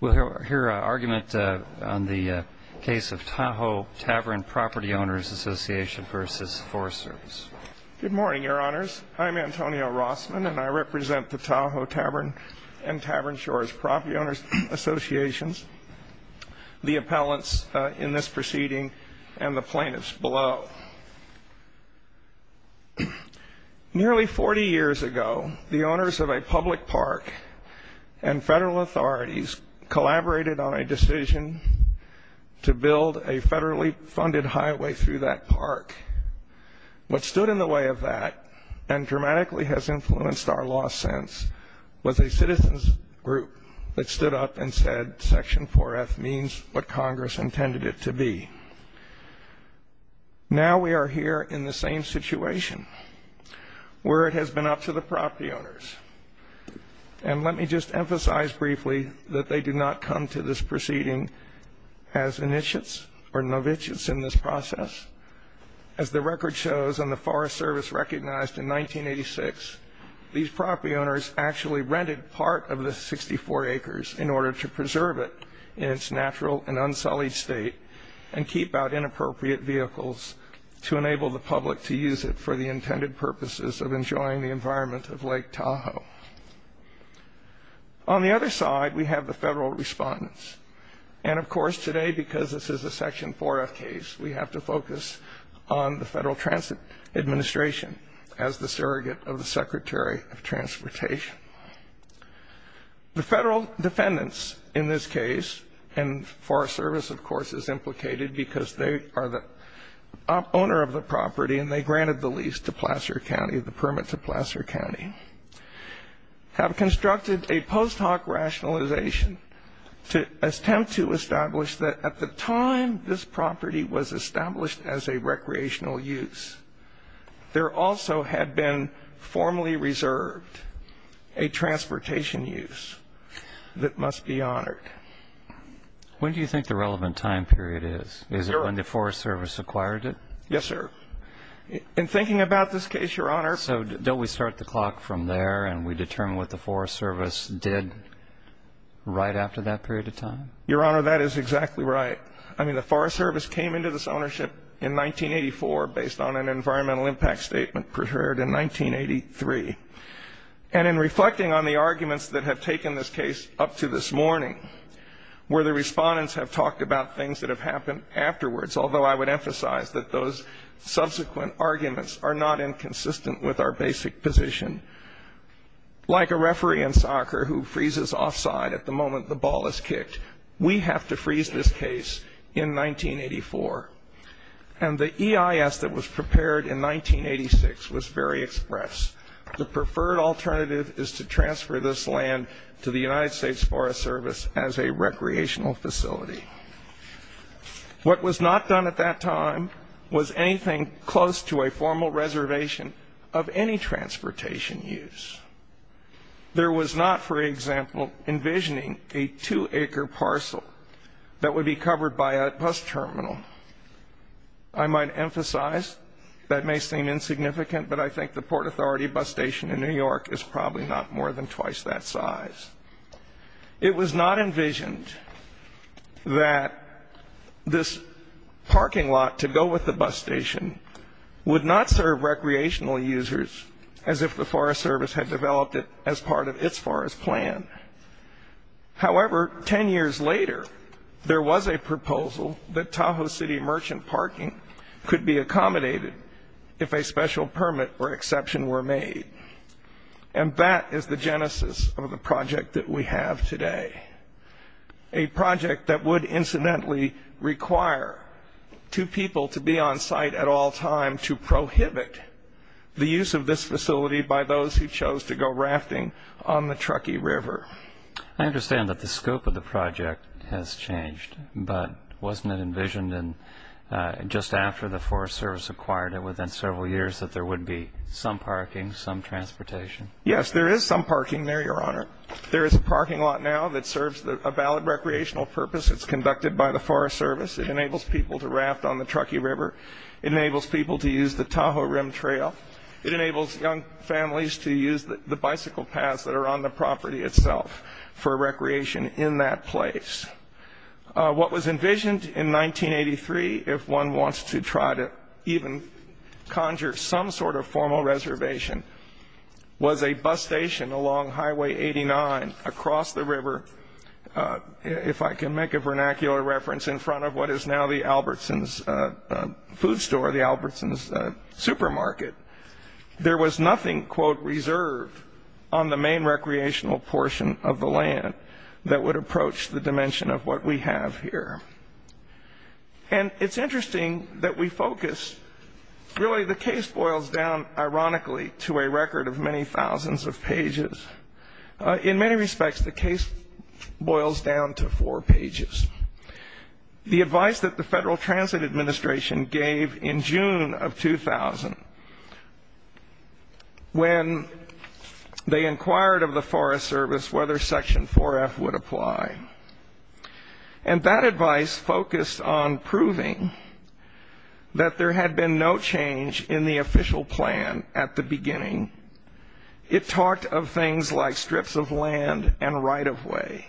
We'll hear an argument on the case of Tahoe Tavern Property Owners Association v. Forest Service. Good morning, Your Honors. I'm Antonio Rossman, and I represent the Tahoe Tavern and Tavern Shores Property Owners Association, the appellants in this proceeding, and the plaintiffs below. Nearly 40 years ago, the owners of a public park and federal authorities collaborated on a decision to build a federally funded highway through that park. What stood in the way of that, and dramatically has influenced our law since, was a citizen's group that stood up and said, Section 4F means what Congress intended it to be. Now we are here in the same situation where it has been up to the property owners. And let me just emphasize briefly that they did not come to this proceeding as initiates or novitiates in this process. As the record shows, and the Forest Service recognized in 1986, these property owners actually rented part of the 64 acres in order to preserve it in its natural and unsullied state and keep out inappropriate vehicles to enable the public to use it for the intended purposes of enjoying the environment of Lake Tahoe. On the other side, we have the federal respondents. And of course today, because this is a Section 4F case, we have to focus on the Federal Transit Administration as the surrogate of the Secretary of Transportation. The federal defendants in this case, and Forest Service of course is implicated because they are the owner of the property and they granted the lease to Placer County, the permit to Placer County, have constructed a post hoc rationalization to attempt to establish that at the time this property was established as a recreational use, there also had been formally reserved a transportation use that must be honored. When do you think the relevant time period is? Is it when the Forest Service acquired it? Yes, sir. In thinking about this case, Your Honor. So don't we start the clock from there and we determine what the Forest Service did right after that period of time? Your Honor, that is exactly right. I mean, the Forest Service came into this ownership in 1984 based on an environmental impact statement prepared in 1983. And in reflecting on the arguments that have taken this case up to this morning, where the respondents have talked about things that have happened afterwards, although I would emphasize that those subsequent arguments are not inconsistent with our basic position. Like a referee in soccer who freezes offside at the moment the ball is kicked, we have to freeze this case in 1984. And the EIS that was prepared in 1986 was very express. The preferred alternative is to transfer this land to the United States Forest Service as a recreational facility. What was not done at that time was anything close to a formal reservation of any transportation use. There was not, for example, envisioning a two-acre parcel that would be covered by a bus terminal. I might emphasize that may seem insignificant, but I think the Port Authority bus station in New York is probably not more than twice that size. It was not envisioned that this parking lot to go with the bus station would not serve recreational users as if the Forest Service had developed it as part of its forest plan. However, ten years later, there was a proposal that Tahoe City Merchant Parking could be accommodated if a special permit or exception were made. And that is the genesis of the project that we have today, a project that would incidentally require two people to be on site at all times to prohibit the use of this facility by those who chose to go rafting on the Truckee River. I understand that the scope of the project has changed, but wasn't it envisioned just after the Forest Service acquired it within several years that there would be some parking, some transportation? Yes, there is some parking there, Your Honor. There is a parking lot now that serves a valid recreational purpose. It's conducted by the Forest Service. It enables people to raft on the Truckee River. It enables people to use the Tahoe Rim Trail. It enables young families to use the bicycle paths that are on the property itself for recreation in that place. What was envisioned in 1983, if one wants to try to even conjure some sort of formal reservation, was a bus station along Highway 89 across the river. If I can make a vernacular reference in front of what is now the Albertsons food store, the Albertsons supermarket, there was nothing, quote, reserved on the main recreational portion of the land that would approach the dimension of what we have here. And it's interesting that we focus. Really, the case boils down, ironically, to a record of many thousands of pages. In many respects, the case boils down to four pages. The advice that the Federal Transit Administration gave in June of 2000 when they inquired of the Forest Service whether Section 4F would apply, and that advice focused on proving that there had been no change in the official plan at the beginning. It talked of things like strips of land and right-of-way.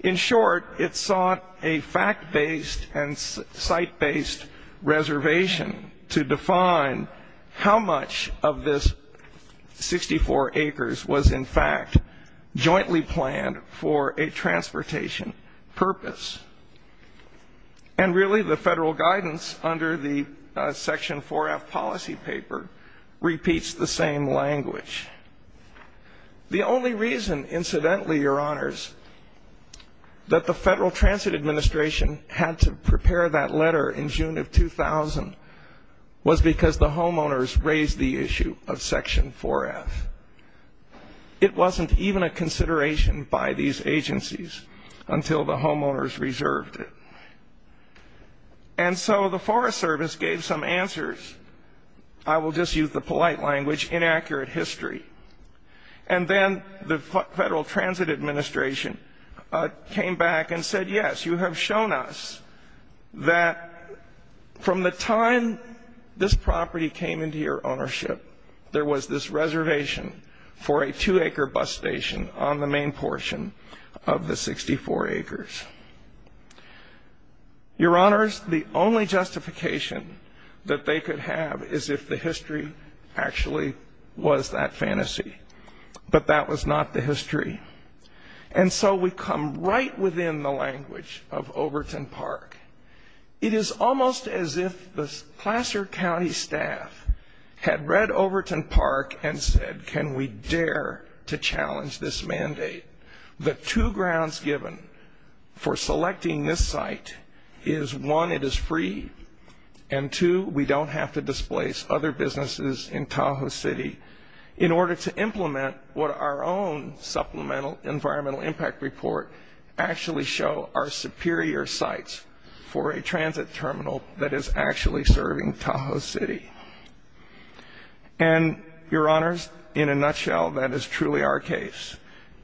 In short, it sought a fact-based and site-based reservation to define how much of this 64 acres was, in fact, jointly planned for a transportation purpose. And really, the Federal guidance under the Section 4F policy paper repeats the same language. The only reason, incidentally, Your Honors, that the Federal Transit Administration had to prepare that letter in June of 2000 was because the homeowners raised the issue of Section 4F. It wasn't even a consideration by these agencies until the homeowners reserved it. And so the Forest Service gave some answers. I will just use the polite language, inaccurate history. And then the Federal Transit Administration came back and said, yes, you have shown us that from the time this property came into your ownership, there was this reservation for a two-acre bus station on the main portion of the 64 acres. Your Honors, the only justification that they could have is if the history actually was that fantasy. But that was not the history. And so we come right within the language of Overton Park. It is almost as if the Placer County staff had read Overton Park and said, can we dare to challenge this mandate? The two grounds given for selecting this site is, one, it is free, and two, we don't have to displace other businesses in Tahoe City in order to implement what our own Supplemental Environmental Impact Report actually show are superior sites for a transit terminal that is actually serving Tahoe City. And, Your Honors, in a nutshell, that is truly our case.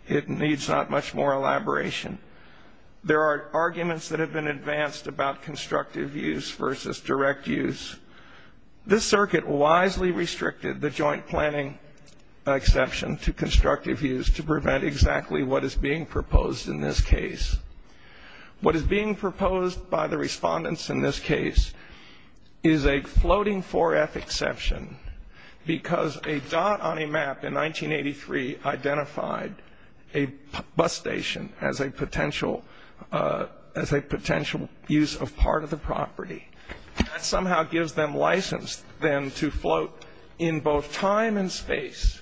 It needs not much more elaboration. There are arguments that have been advanced about constructive use versus direct use. This circuit wisely restricted the joint planning exception to constructive use to prevent exactly what is being proposed in this case. What is being proposed by the respondents in this case is a floating 4F exception because a dot on a map in 1983 identified a bus station as a potential use of part of the property. That somehow gives them license then to float in both time and space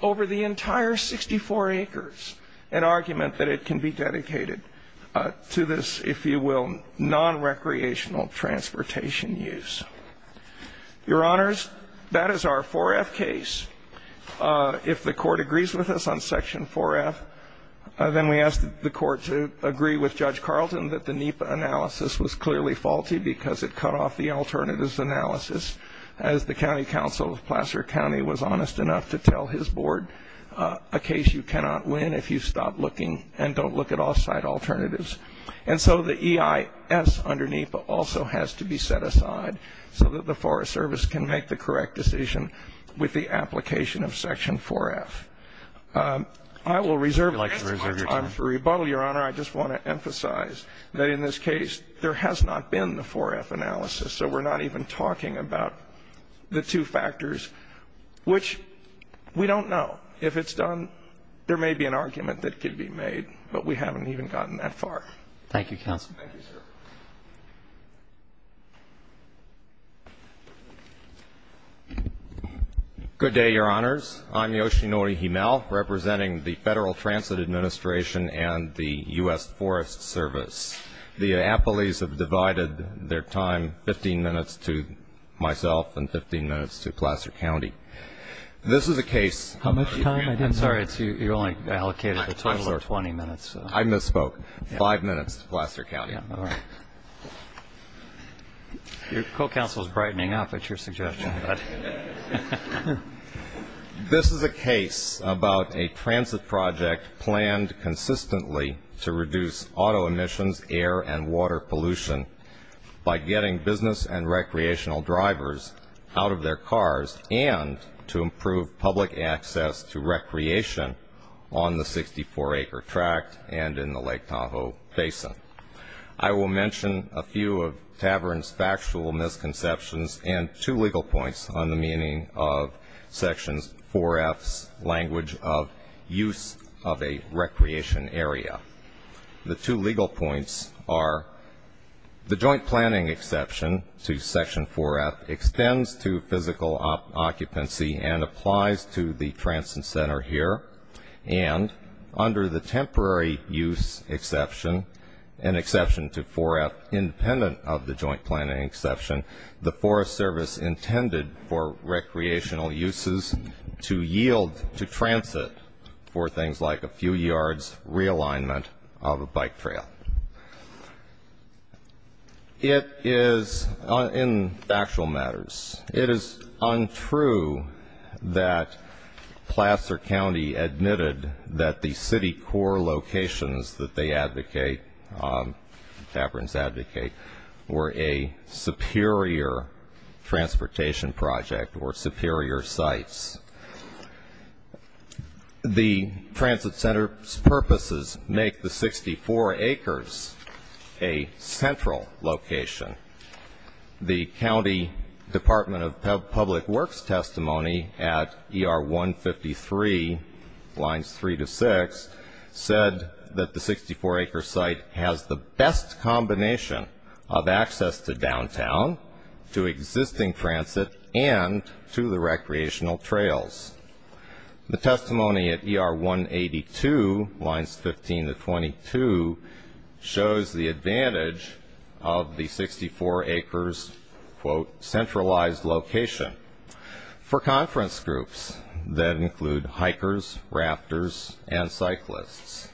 over the entire 64 acres, an argument that it can be dedicated to this, if you will, nonrecreational transportation use. Your Honors, that is our 4F case. If the Court agrees with us on Section 4F, then we ask the Court to agree with Judge Carlton that the NEPA analysis was clearly faulty because it cut off the alternatives analysis, as the county counsel of Placer County was honest enough to tell his board, a case you cannot win if you stop looking and don't look at off-site alternatives. And so the EIS under NEPA also has to be set aside so that the Forest Service can make the correct decision with the application of Section 4F. I will reserve the rest of my time for rebuttal, Your Honor. I just want to emphasize that in this case there has not been the 4F analysis, so we're not even talking about the two factors, which we don't know. If it's done, there may be an argument that could be made, but we haven't even gotten that far. Thank you, Counsel. Thank you, sir. Good day, Your Honors. I'm Yoshinori Himel, representing the Federal Transit Administration and the U.S. Forest Service. The appellees have divided their time, 15 minutes to myself and 15 minutes to Placer County. This is a case. How much time? I'm sorry, you only allocated a total of 20 minutes. I misspoke. Five minutes to Placer County. All right. Your co-counsel is brightening up at your suggestion. This is a case about a transit project planned consistently to reduce auto emissions, air and water pollution by getting business and recreational drivers out of their cars and to improve public access to recreation on the 64-acre tract and in the Lake Tahoe Basin. I will mention a few of Tavern's factual misconceptions and two legal points on the meaning of Section 4F's language of use of a recreation area. The two legal points are the joint planning exception to Section 4F extends to physical occupancy and applies to the transit center here, and under the temporary use exception, an exception to 4F independent of the joint planning exception, the Forest Service intended for recreational uses to yield to transit for things like a few yards realignment of a bike trail. It is, in factual matters, it is untrue that Placer County admitted that the city core locations that they advocate, Taverns advocate, were a superior transportation project or superior sites. The transit center's purposes make the 64 acres a central location. The County Department of Public Works testimony at ER 153, lines 3 to 6, said that the 64-acre site has the best combination of access to downtown, to existing transit, and to the recreational trails. The testimony at ER 182, lines 15 to 22, shows the advantage of the 64 acres, quote, centralized location. For conference groups that include hikers, rafters, and cyclists.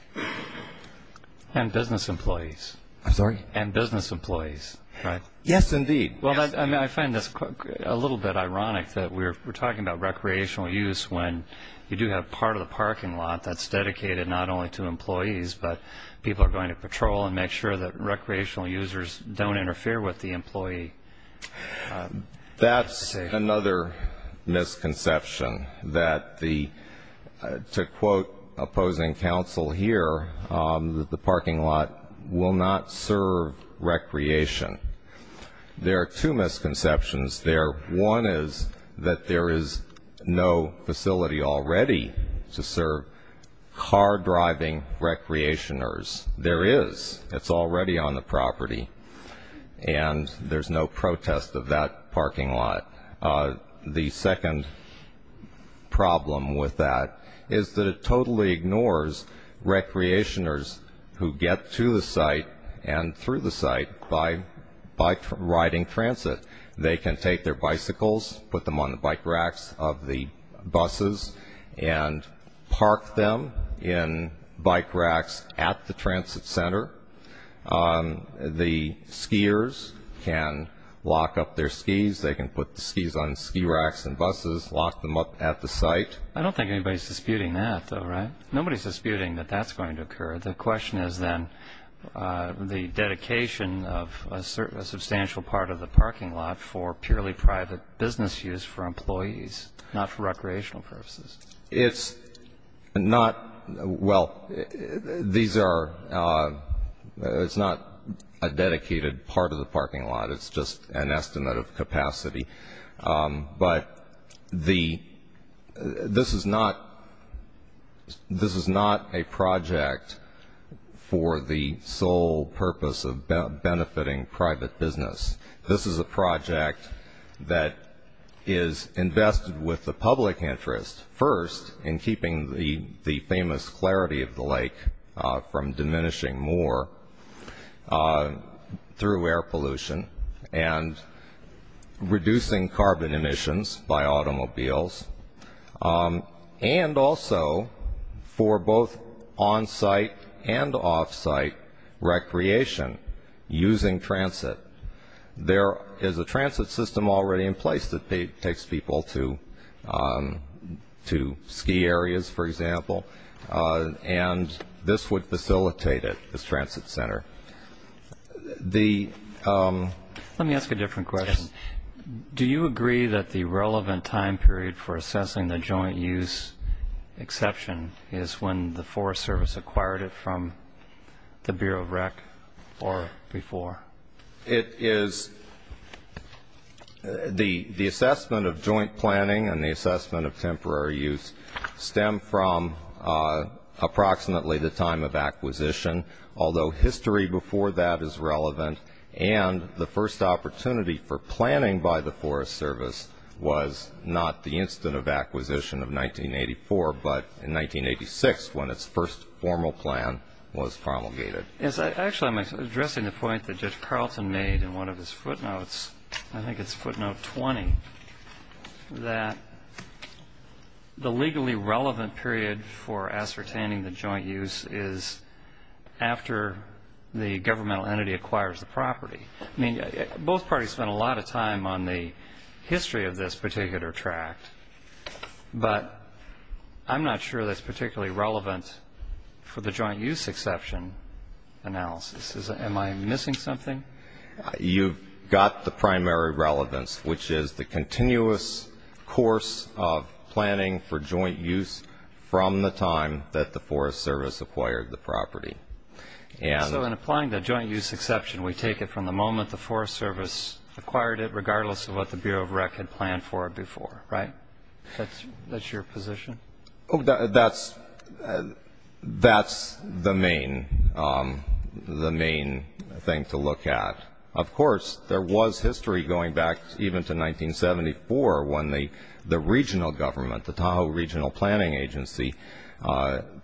And business employees. I'm sorry? And business employees, right? Yes, indeed. Well, I find this a little bit ironic that we're talking about recreational use when you do have part of the parking lot that's dedicated not only to employees, but people are going to patrol and make sure that recreational users don't interfere with the employee. That's another misconception that the, to quote opposing counsel here, the parking lot will not serve recreation. There are two misconceptions there. One is that there is no facility already to serve car-driving recreationers. There is. It's already on the property. And there's no protest of that parking lot. The second problem with that is that it totally ignores recreationers who get to the site and through the site by riding transit. They can take their bicycles, put them on the bike racks of the buses, and park them in bike racks at the transit center. The skiers can lock up their skis. They can put the skis on ski racks and buses, lock them up at the site. I don't think anybody's disputing that, though, right? Nobody's disputing that that's going to occur. The question is then the dedication of a substantial part of the parking lot for purely private business use for employees, not for recreational purposes. It's not – well, these are – it's not a dedicated part of the parking lot. It's just an estimate of capacity. But this is not a project for the sole purpose of benefiting private business. This is a project that is invested with the public interest, first in keeping the famous clarity of the lake from diminishing more through air pollution and reducing carbon emissions by automobiles, and also for both on-site and off-site recreation using transit. There is a transit system already in place that takes people to ski areas, for example, and this would facilitate it, this transit center. Let me ask a different question. Do you agree that the relevant time period for assessing the joint use exception is when the Forest Service acquired it from the Bureau of Rec or before? It is – the assessment of joint planning and the assessment of temporary use stem from approximately the time of acquisition, although history before that is relevant. And the first opportunity for planning by the Forest Service was not the instant of acquisition of 1984, but in 1986 when its first formal plan was promulgated. Actually, I'm addressing the point that Judge Carlton made in one of his footnotes. I think it's footnote 20, that the legally relevant period for ascertaining the joint use is after the governmental entity acquires the property. I mean, both parties spent a lot of time on the history of this particular tract, but I'm not sure that's particularly relevant for the joint use exception analysis. Am I missing something? You've got the primary relevance, which is the continuous course of planning for joint use from the time that the Forest Service acquired the property. So in applying the joint use exception, we take it from the moment the Forest Service acquired it, regardless of what the Bureau of Rec had planned for before, right? That's your position? That's the main thing to look at. Of course, there was history going back even to 1974 when the regional government, the Tahoe Regional Planning Agency,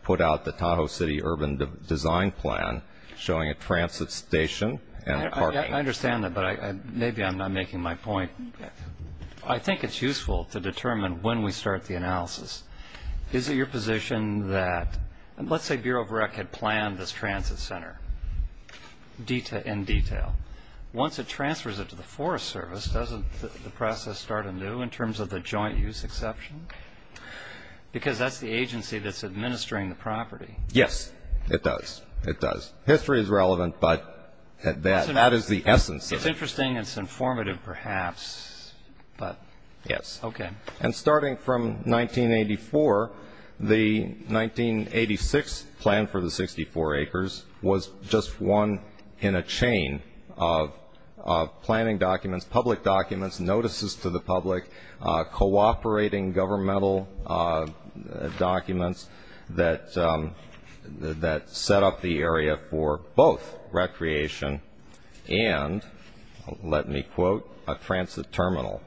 put out the Tahoe City Urban Design Plan showing a transit station and parking. I understand that, but maybe I'm not making my point. I think it's useful to determine when we start the analysis. Is it your position that let's say Bureau of Rec had planned this transit center in detail. Once it transfers it to the Forest Service, doesn't the process start anew in terms of the joint use exception? Because that's the agency that's administering the property. Yes, it does. History is relevant, but that is the essence. It's interesting and it's informative perhaps, but okay. Yes, and starting from 1984, the 1986 plan for the 64 acres was just one in a chain of planning documents, cooperating governmental documents that set up the area for both recreation and, let me quote, a transit terminal.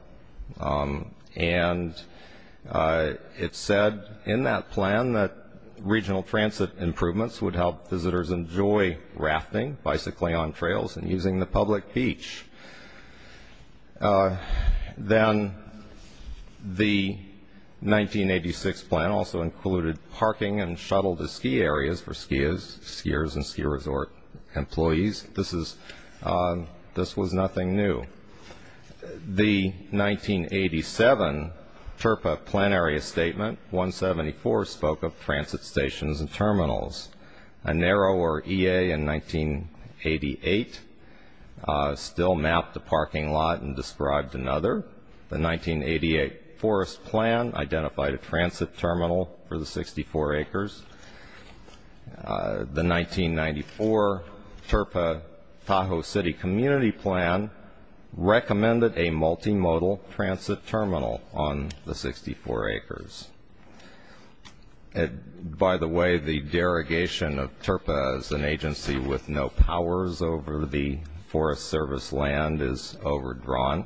And it said in that plan that regional transit improvements would help visitors enjoy rafting, bicycling on trails, and using the public beach. Then the 1986 plan also included parking and shuttle to ski areas for skiers and ski resort employees. This was nothing new. The 1987 TRPA plan area statement, 174, spoke of transit stations and terminals. A narrower EA in 1988 still mapped the parking lot and described another. The 1988 forest plan identified a transit terminal for the 64 acres. The 1994 TRPA Tahoe City Community Plan recommended a multimodal transit terminal on the 64 acres. By the way, the derogation of TRPA as an agency with no powers over the Forest Service land is overdrawn.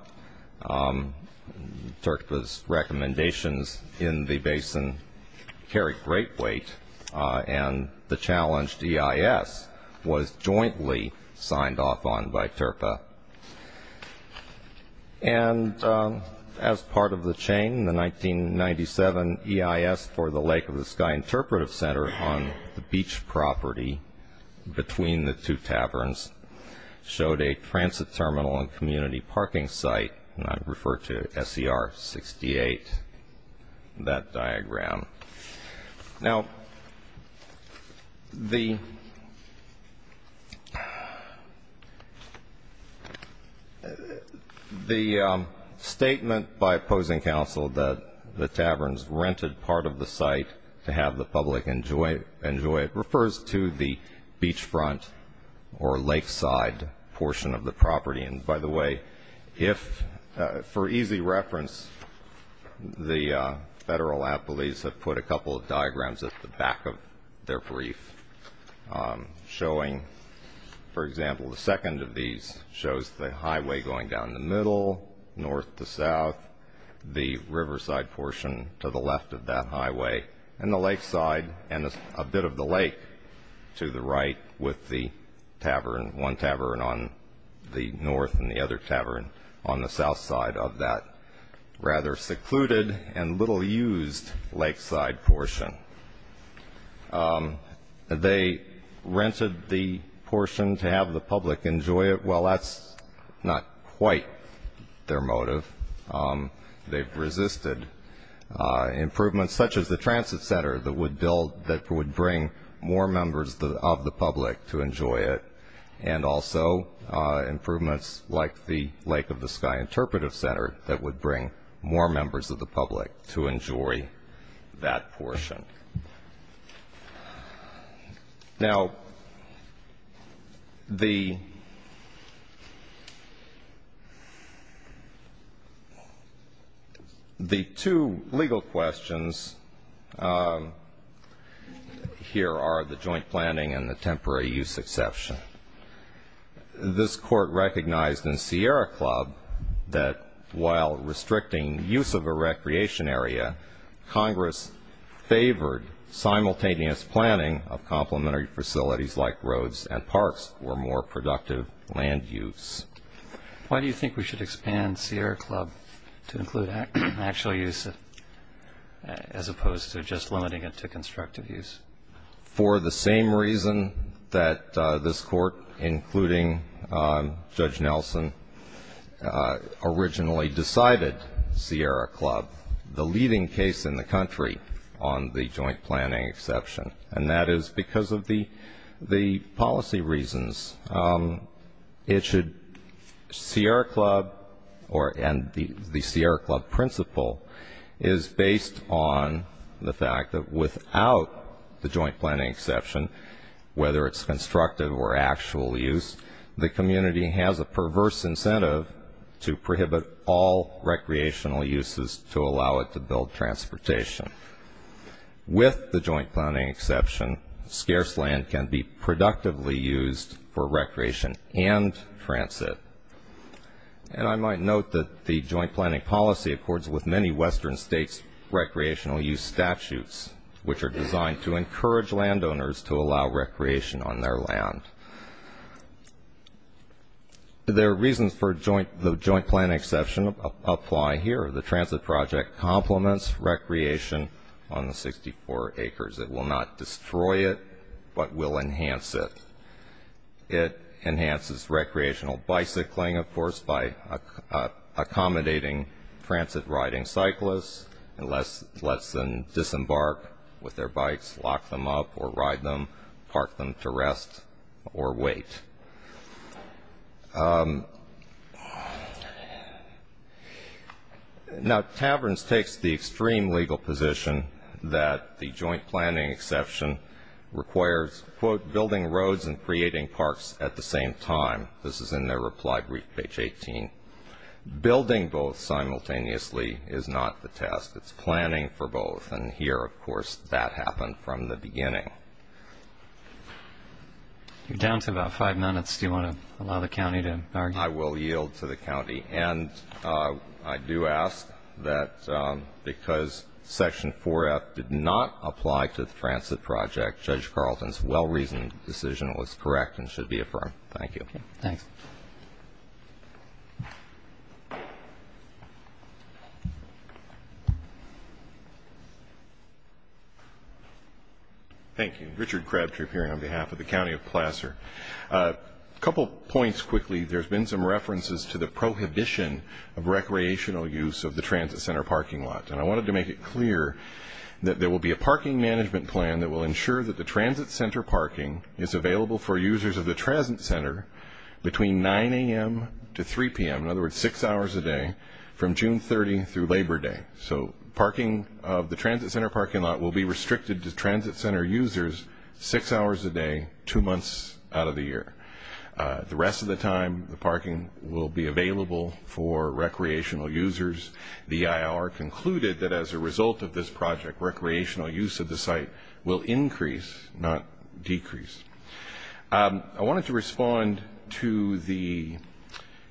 TRPA's recommendations in the basin carry great weight, and the challenged EIS was jointly signed off on by TRPA. And as part of the chain, the 1997 EIS for the Lake of the Sky Interpretive Center on the beach property between the two taverns showed a transit terminal and community parking site, and I refer to SER 68, that diagram. Now, the statement by opposing counsel that the taverns rented part of the site to have the public enjoy it refers to the beachfront or lakeside portion of the property. And by the way, for easy reference, the federal appellees have put a couple of diagrams at the back of their brief showing, for example, the second of these shows the highway going down the middle, north to south, the riverside portion to the left of that highway, and the lakeside and a bit of the lake to the right with the tavern, one tavern on the north and the other tavern on the south side of that rather secluded and little-used lakeside portion. They rented the portion to have the public enjoy it. Well, that's not quite their motive. They've resisted improvements such as the transit center that would bring more members of the public to enjoy it and also improvements like the Lake of the Sky Interpretive Center that would bring more members of the public to enjoy that portion. Now, the two legal questions here are the joint planning and the temporary use exception. This court recognized in Sierra Club that while restricting use of a recreation area, Congress favored simultaneous planning of complementary facilities like roads and parks for more productive land use. Why do you think we should expand Sierra Club to include actual use as opposed to just limiting it to constructive use? For the same reason that this court, including Judge Nelson, originally decided Sierra Club. The leading case in the country on the joint planning exception, and that is because of the policy reasons. It should, Sierra Club and the Sierra Club principle is based on the fact that without the joint planning exception, whether it's constructive or actual use, the community has a perverse incentive to prohibit all recreational uses to allow it to build transportation. With the joint planning exception, scarce land can be productively used for recreation and transit. And I might note that the joint planning policy accords with many Western states' recreational use statutes, which are designed to encourage landowners to allow recreation on their land. The reasons for the joint planning exception apply here. The transit project complements recreation on the 64 acres. It will not destroy it, but will enhance it. It enhances recreational bicycling, of course, by accommodating transit riding cyclists and lets them disembark with their bikes, lock them up or ride them, park them to rest or wait. Now, Taverns takes the extreme legal position that the joint planning exception requires, quote, building roads and creating parks at the same time. This is in their reply brief, page 18. Building both simultaneously is not the test. It's planning for both. And here, of course, that happened from the beginning. You're down to about five minutes. Do you want to allow the county to argue? I will yield to the county. And I do ask that because Section 4F did not apply to the transit project, Judge Carlton's well-reasoned decision was correct and should be affirmed. Thank you. Thanks. Thank you. Richard Crabtree appearing on behalf of the County of Placer. A couple points quickly. There's been some references to the prohibition of recreational use of the transit center parking lot, and I wanted to make it clear that there will be a parking management plan that will ensure that the transit center parking is available for users of the transit center between 9 a.m. to 3 p.m., in other words, six hours a day, from June 30 through Labor Day. So parking of the transit center parking lot will be restricted to transit center users six hours a day, two months out of the year. The rest of the time, the parking will be available for recreational users. The EIR concluded that as a result of this project, recreational use of the site will increase, not decrease. I wanted to respond to the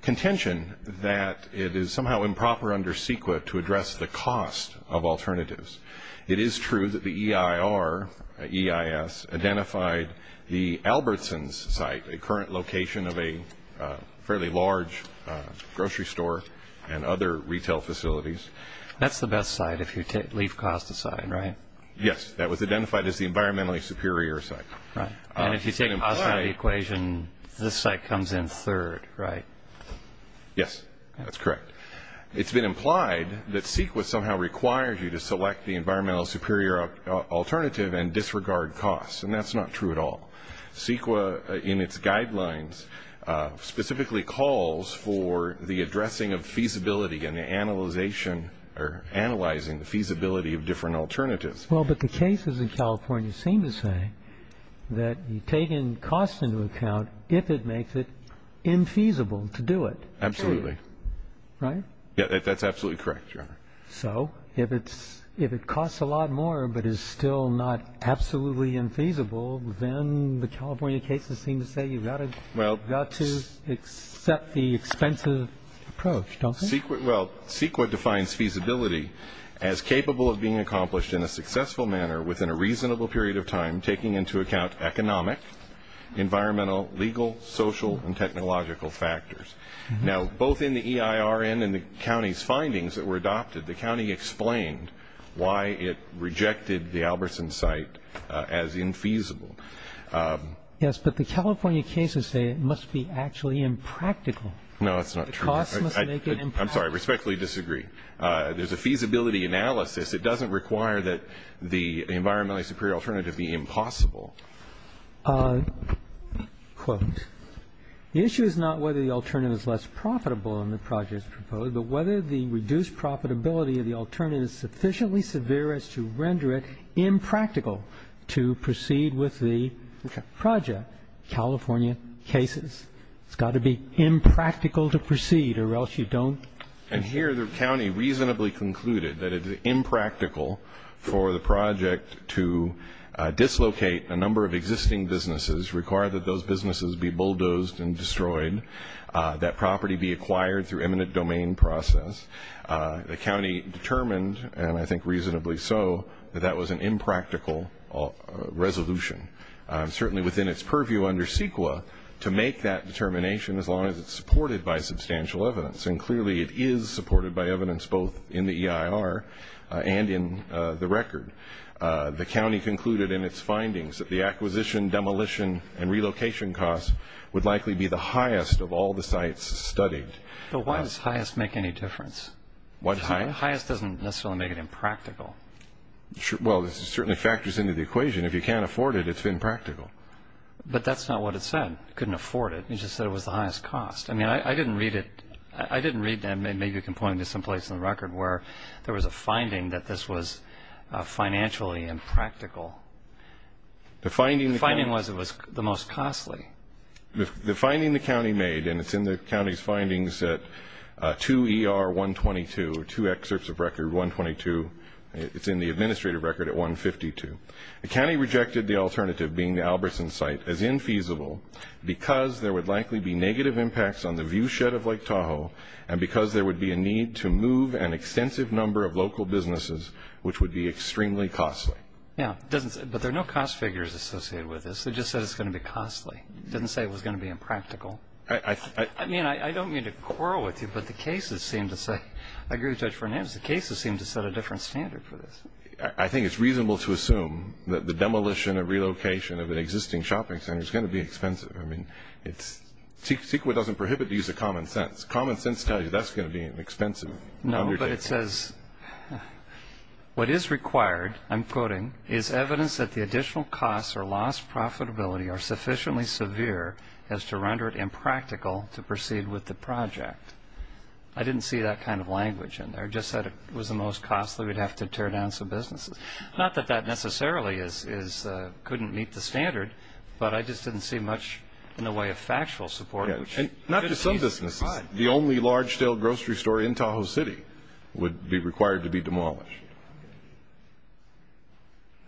contention that it is somehow improper under CEQA to address the cost of alternatives. It is true that the EIR, EIS, identified the Albertsons site, a current location of a fairly large grocery store and other retail facilities. That's the best site if you leave cost aside, right? Yes, that was identified as the environmentally superior site. Right. And if you take a positive equation, this site comes in third, right? Yes, that's correct. It's been implied that CEQA somehow requires you to select the environmentally superior alternative and disregard costs, and that's not true at all. CEQA, in its guidelines, specifically calls for the addressing of feasibility and analyzing the feasibility of different alternatives. Well, but the cases in California seem to say that you take costs into account if it makes it infeasible to do it. Absolutely. That's absolutely correct, Your Honor. So if it costs a lot more but is still not absolutely infeasible, then the California cases seem to say you've got to accept the expensive approach, don't you? Well, CEQA defines feasibility as capable of being accomplished in a successful manner within a reasonable period of time taking into account economic, environmental, legal, social, and technological factors. Now, both in the EIRN and the county's findings that were adopted, the county explained why it rejected the Albertson site as infeasible. Yes, but the California cases say it must be actually impractical. No, that's not true. The costs must make it impractical. I'm sorry. I respectfully disagree. There's a feasibility analysis. It doesn't require that the environmentally superior alternative be impossible. Quote, the issue is not whether the alternative is less profitable than the project proposed, but whether the reduced profitability of the alternative is sufficiently severe as to render it impractical to proceed with the project, California cases. It's got to be impractical to proceed or else you don't. And here the county reasonably concluded that it is impractical for the project to dislocate a number of existing businesses, require that those businesses be bulldozed and destroyed, that property be acquired through eminent domain process. The county determined, and I think reasonably so, that that was an impractical resolution, certainly within its purview under CEQA to make that determination as long as it's supported by substantial evidence. And clearly it is supported by evidence both in the EIR and in the record. The county concluded in its findings that the acquisition, demolition, and relocation costs would likely be the highest of all the sites studied. But why does highest make any difference? What? Highest doesn't necessarily make it impractical. Well, it certainly factors into the equation. If you can't afford it, it's impractical. But that's not what it said. It couldn't afford it. It just said it was the highest cost. I mean, I didn't read it. I didn't read, and maybe you can point to someplace in the record, where there was a finding that this was financially impractical. The finding was it was the most costly. The finding the county made, and it's in the county's findings at 2 ER 122, two excerpts of record 122. It's in the administrative record at 152. The county rejected the alternative being the Albertson site as infeasible because there would likely be negative impacts on the view shed of Lake Tahoe and because there would be a need to move an extensive number of local businesses, which would be extremely costly. Yeah, but there are no cost figures associated with this. It just said it's going to be costly. It didn't say it was going to be impractical. I mean, I don't mean to quarrel with you, but the cases seem to say, I agree with Judge Fernandez, the cases seem to set a different standard for this. I think it's reasonable to assume that the demolition and the relocation of an existing shopping center is going to be expensive. I mean, CEQA doesn't prohibit the use of common sense. Common sense tells you that's going to be an expensive undertaking. No, but it says what is required, I'm quoting, is evidence that the additional costs or lost profitability are sufficiently severe as to render it impractical to proceed with the project. I didn't see that kind of language in there. It just said it was the most costly. We'd have to tear down some businesses. Not that that necessarily couldn't meet the standard, but I just didn't see much in the way of factual support. Not just some businesses. The only large-scale grocery store in Tahoe City would be required to be demolished.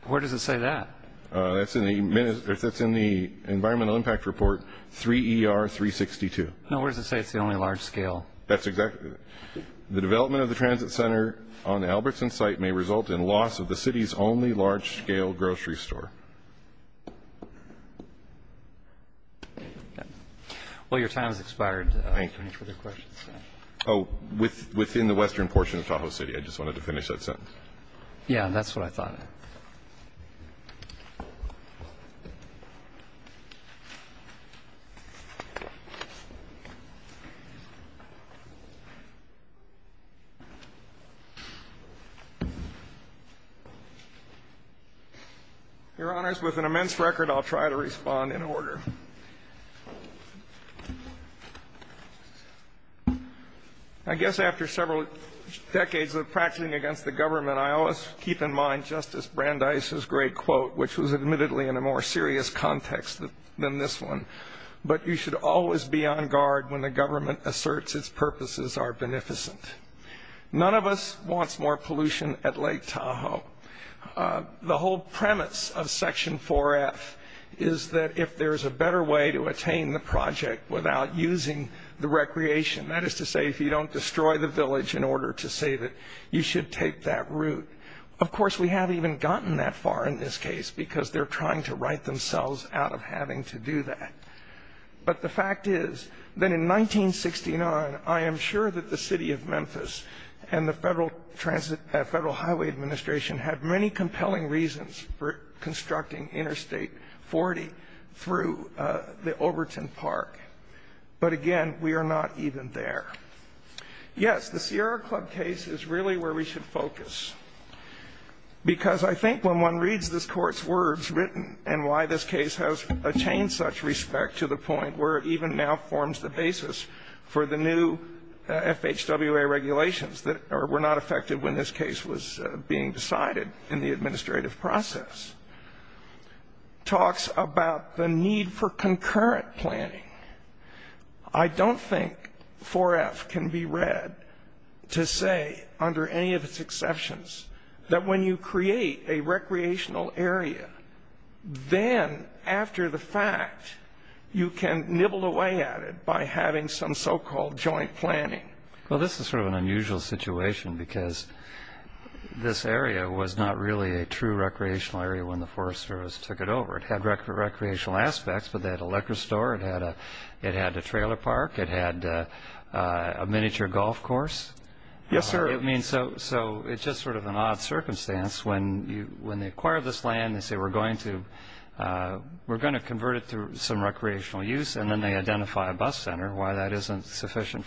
Where does it say that? That's in the Environmental Impact Report 3ER362. No, where does it say it's the only large scale? That's exactly it. The development of the transit center on the Albertson site may result in loss of the city's only large-scale grocery store. Well, your time has expired. Thank you. Any further questions? Oh, within the western portion of Tahoe City. I just wanted to finish that sentence. Yeah, that's what I thought. Your Honors, with an immense record, I'll try to respond in order. I guess after several decades of practicing against the government, I always keep in mind Justice Brandeis' great quote, which was admittedly in a more serious context than this one. But you should always be on guard when the government asserts its purposes are beneficent. None of us wants more pollution at Lake Tahoe. The whole premise of Section 4F is that if there's a better way to attain the project without using the recreation, that is to say, if you don't destroy the village in order to save it, you should take that route. Of course, we haven't even gotten that far in this case because they're trying to right themselves out of having to do that. But the fact is that in 1969, I am sure that the City of Memphis and the Federal Highway Administration had many compelling reasons for constructing Interstate 40 through the Overton Park. But again, we are not even there. Yes, the Sierra Club case is really where we should focus because I think when one reads this Court's words written and why this case has attained such respect to the point where it even now forms the basis for the new FHWA regulations that were not affected when this case was being decided in the administrative process, talks about the need for concurrent planning. I don't think 4F can be read to say, under any of its exceptions, that when you create a recreational area, then after the fact, you can nibble away at it by having some so-called joint planning. Well, this is sort of an unusual situation because this area was not really a true recreational area when the Forest Service took it over. It had recreational aspects, but they had a liquor store, it had a trailer park, it had a miniature golf course. Yes, sir. I mean, so it's just sort of an odd circumstance. When they acquire this land, they say, we're going to convert it to some recreational use, and then they identify a bus center, why that isn't sufficient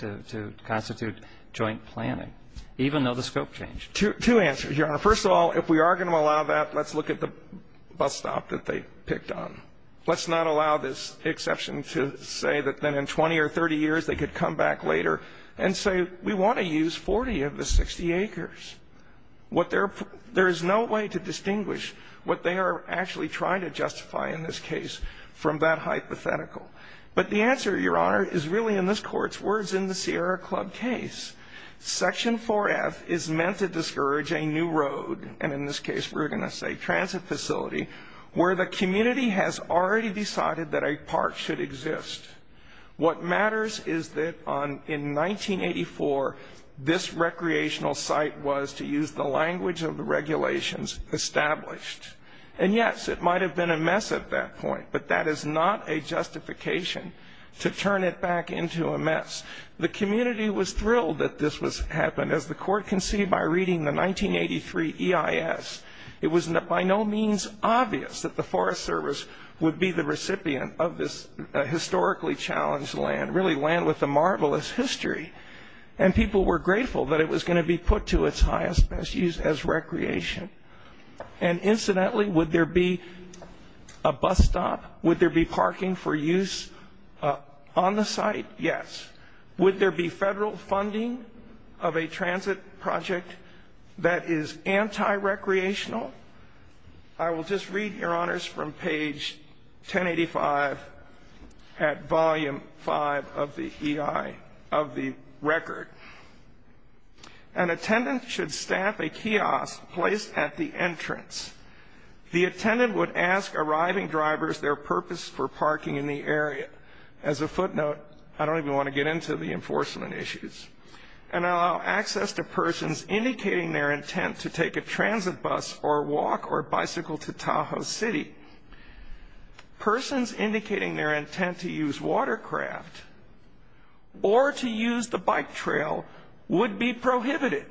to constitute joint planning, even though the scope changed. Two answers, Your Honor. First of all, if we are going to allow that, let's look at the bus stop that they picked on. Let's not allow this exception to say that then in 20 or 30 years they could come back later and say, we want to use 40 of the 60 acres. There is no way to distinguish what they are actually trying to justify in this case from that hypothetical. But the answer, Your Honor, is really in this Court's words in the Sierra Club case. Section 4F is meant to discourage a new road, and in this case we're going to say transit facility, where the community has already decided that a park should exist. What matters is that in 1984, this recreational site was, to use the language of the regulations, established. And yes, it might have been a mess at that point, but that is not a justification to turn it back into a mess. The community was thrilled that this happened. As the Court can see by reading the 1983 EIS, it was by no means obvious that the Forest Service would be the recipient of this historically challenged land, really land with a marvelous history. And people were grateful that it was going to be put to its highest use as recreation. And incidentally, would there be a bus stop? Would there be parking for use on the site? Yes. Would there be federal funding of a transit project that is anti-recreational? I will just read, Your Honors, from page 1085 at volume 5 of the EI, of the record. An attendant should staff a kiosk placed at the entrance. The attendant would ask arriving drivers their purpose for parking in the area. As a footnote, I don't even want to get into the enforcement issues. And allow access to persons indicating their intent to take a transit bus or walk or bicycle to Tahoe City. Persons indicating their intent to use watercraft or to use the bike trail would be prohibited.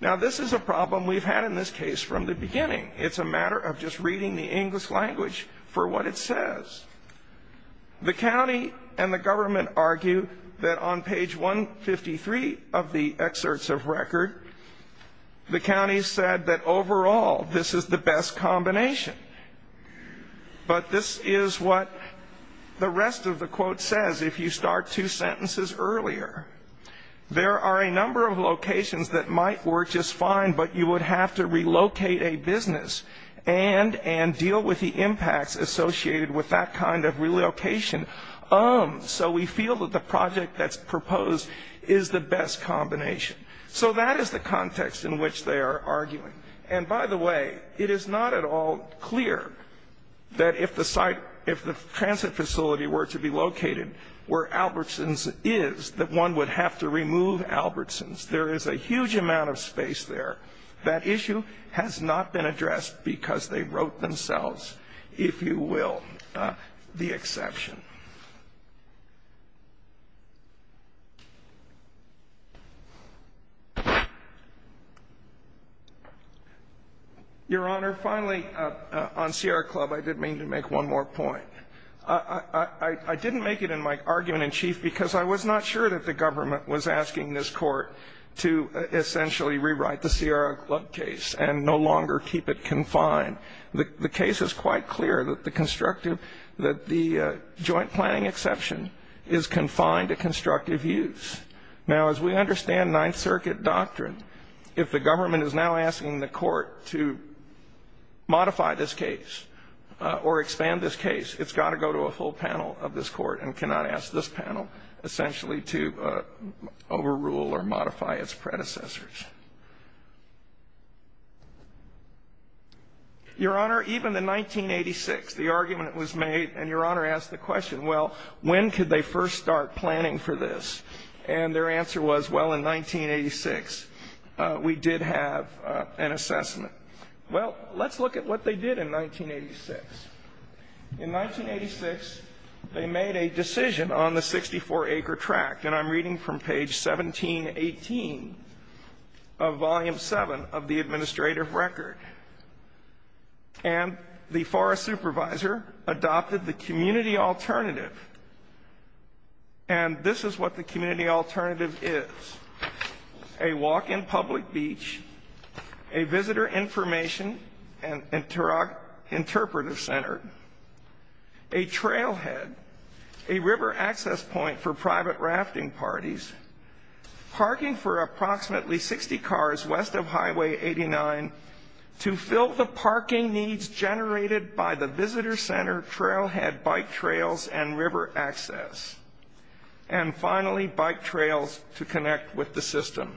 Now, this is a problem we've had in this case from the beginning. It's a matter of just reading the English language for what it says. The county and the government argue that on page 153 of the excerpts of record, the county said that overall this is the best combination. But this is what the rest of the quote says if you start two sentences earlier. There are a number of locations that might work just fine, but you would have to relocate a business and deal with the impacts associated with that kind of relocation. So we feel that the project that's proposed is the best combination. So that is the context in which they are arguing. And by the way, it is not at all clear that if the transit facility were to be located where Albertsons is, that one would have to remove Albertsons. There is a huge amount of space there. That issue has not been addressed because they wrote themselves, if you will, the exception. Your Honor, finally, on Sierra Club, I did mean to make one more point. I didn't make it in my argument in chief because I was not sure that the government was asking this court to essentially rewrite the Sierra Club case and no longer keep it confined. The case is quite clear that the joint planning exception is confined to constructive use. Now, as we understand Ninth Circuit doctrine, if the government is now asking the court to modify this case or expand this case, it's got to go to a whole panel of this court and cannot ask this panel essentially to overrule or modify its predecessors. Your Honor, even in 1986, the argument was made, and Your Honor asked the question, well, when could they first start planning for this? And their answer was, well, in 1986, we did have an assessment. Well, let's look at what they did in 1986. In 1986, they made a decision on the 64-acre tract, and I'm reading from page 1718 of Volume 7 of the administrative record. And the forest supervisor adopted the community alternative. And this is what the community alternative is, a walk in public beach, a visitor information and interpreter center, a trailhead, a river access point for private rafting parties, parking for approximately 60 cars west of Highway 89 to fill the parking needs generated by the visitor center, trailhead, bike trails, and river access, and finally, bike trails to connect with the system.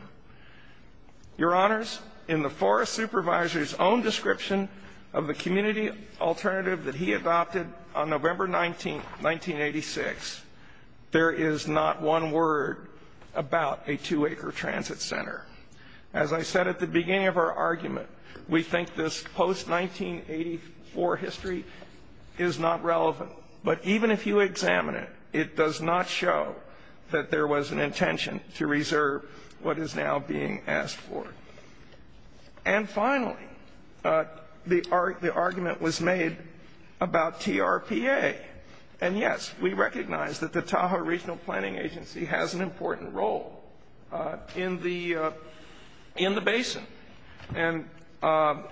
Your Honors, in the forest supervisor's own description of the community alternative that he adopted on November 19, 1986, there is not one word about a 2-acre transit center. As I said at the beginning of our argument, we think this post-1984 history is not relevant. But even if you examine it, it does not show that there was an intention to reserve what is now being asked for. And finally, the argument was made about TRPA. And yes, we recognize that the Tahoe Regional Planning Agency has an important role in the basin. And I'm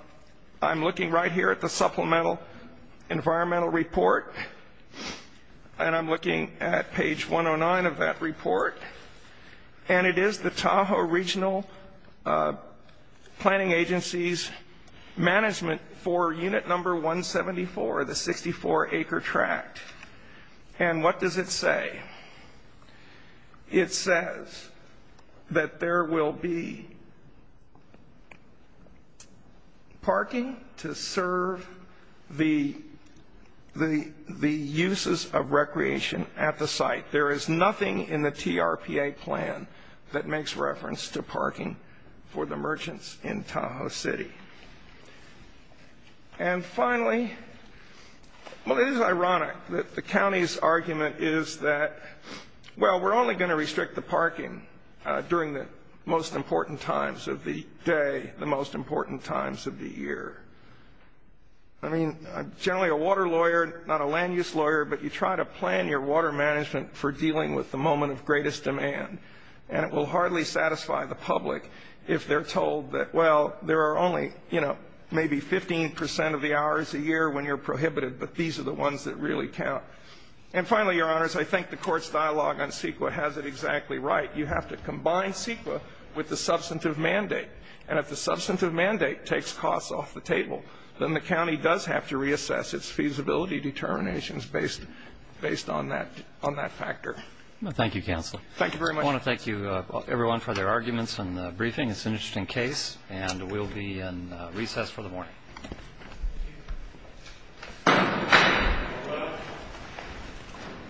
looking right here at the supplemental environmental report, and I'm looking at page 109 of that report, and it is the Tahoe Regional Planning Agency's management for unit number 174, the 64-acre tract. And what does it say? It says that there will be parking to serve the uses of recreation at the site. There is nothing in the TRPA plan that makes reference to parking for the merchants in Tahoe City. And finally, well, it is ironic that the county's argument is that, well, we're only going to restrict the parking during the most important times of the day, the most important times of the year. I mean, I'm generally a water lawyer, not a land-use lawyer, but you try to plan your water management for dealing with the moment of greatest demand. And it will hardly satisfy the public if they're told that, well, there are only, you know, maybe 15 percent of the hours a year when you're prohibited, but these are the ones that really count. And finally, Your Honors, I think the Court's dialogue on CEQA has it exactly right. You have to combine CEQA with the substantive mandate. And if the substantive mandate takes costs off the table, then the county does have to reassess its feasibility determinations based on that factor. Thank you, Counselor. Thank you very much. I want to thank everyone for their arguments and briefing. It's an interesting case. And we'll be in recess for the morning.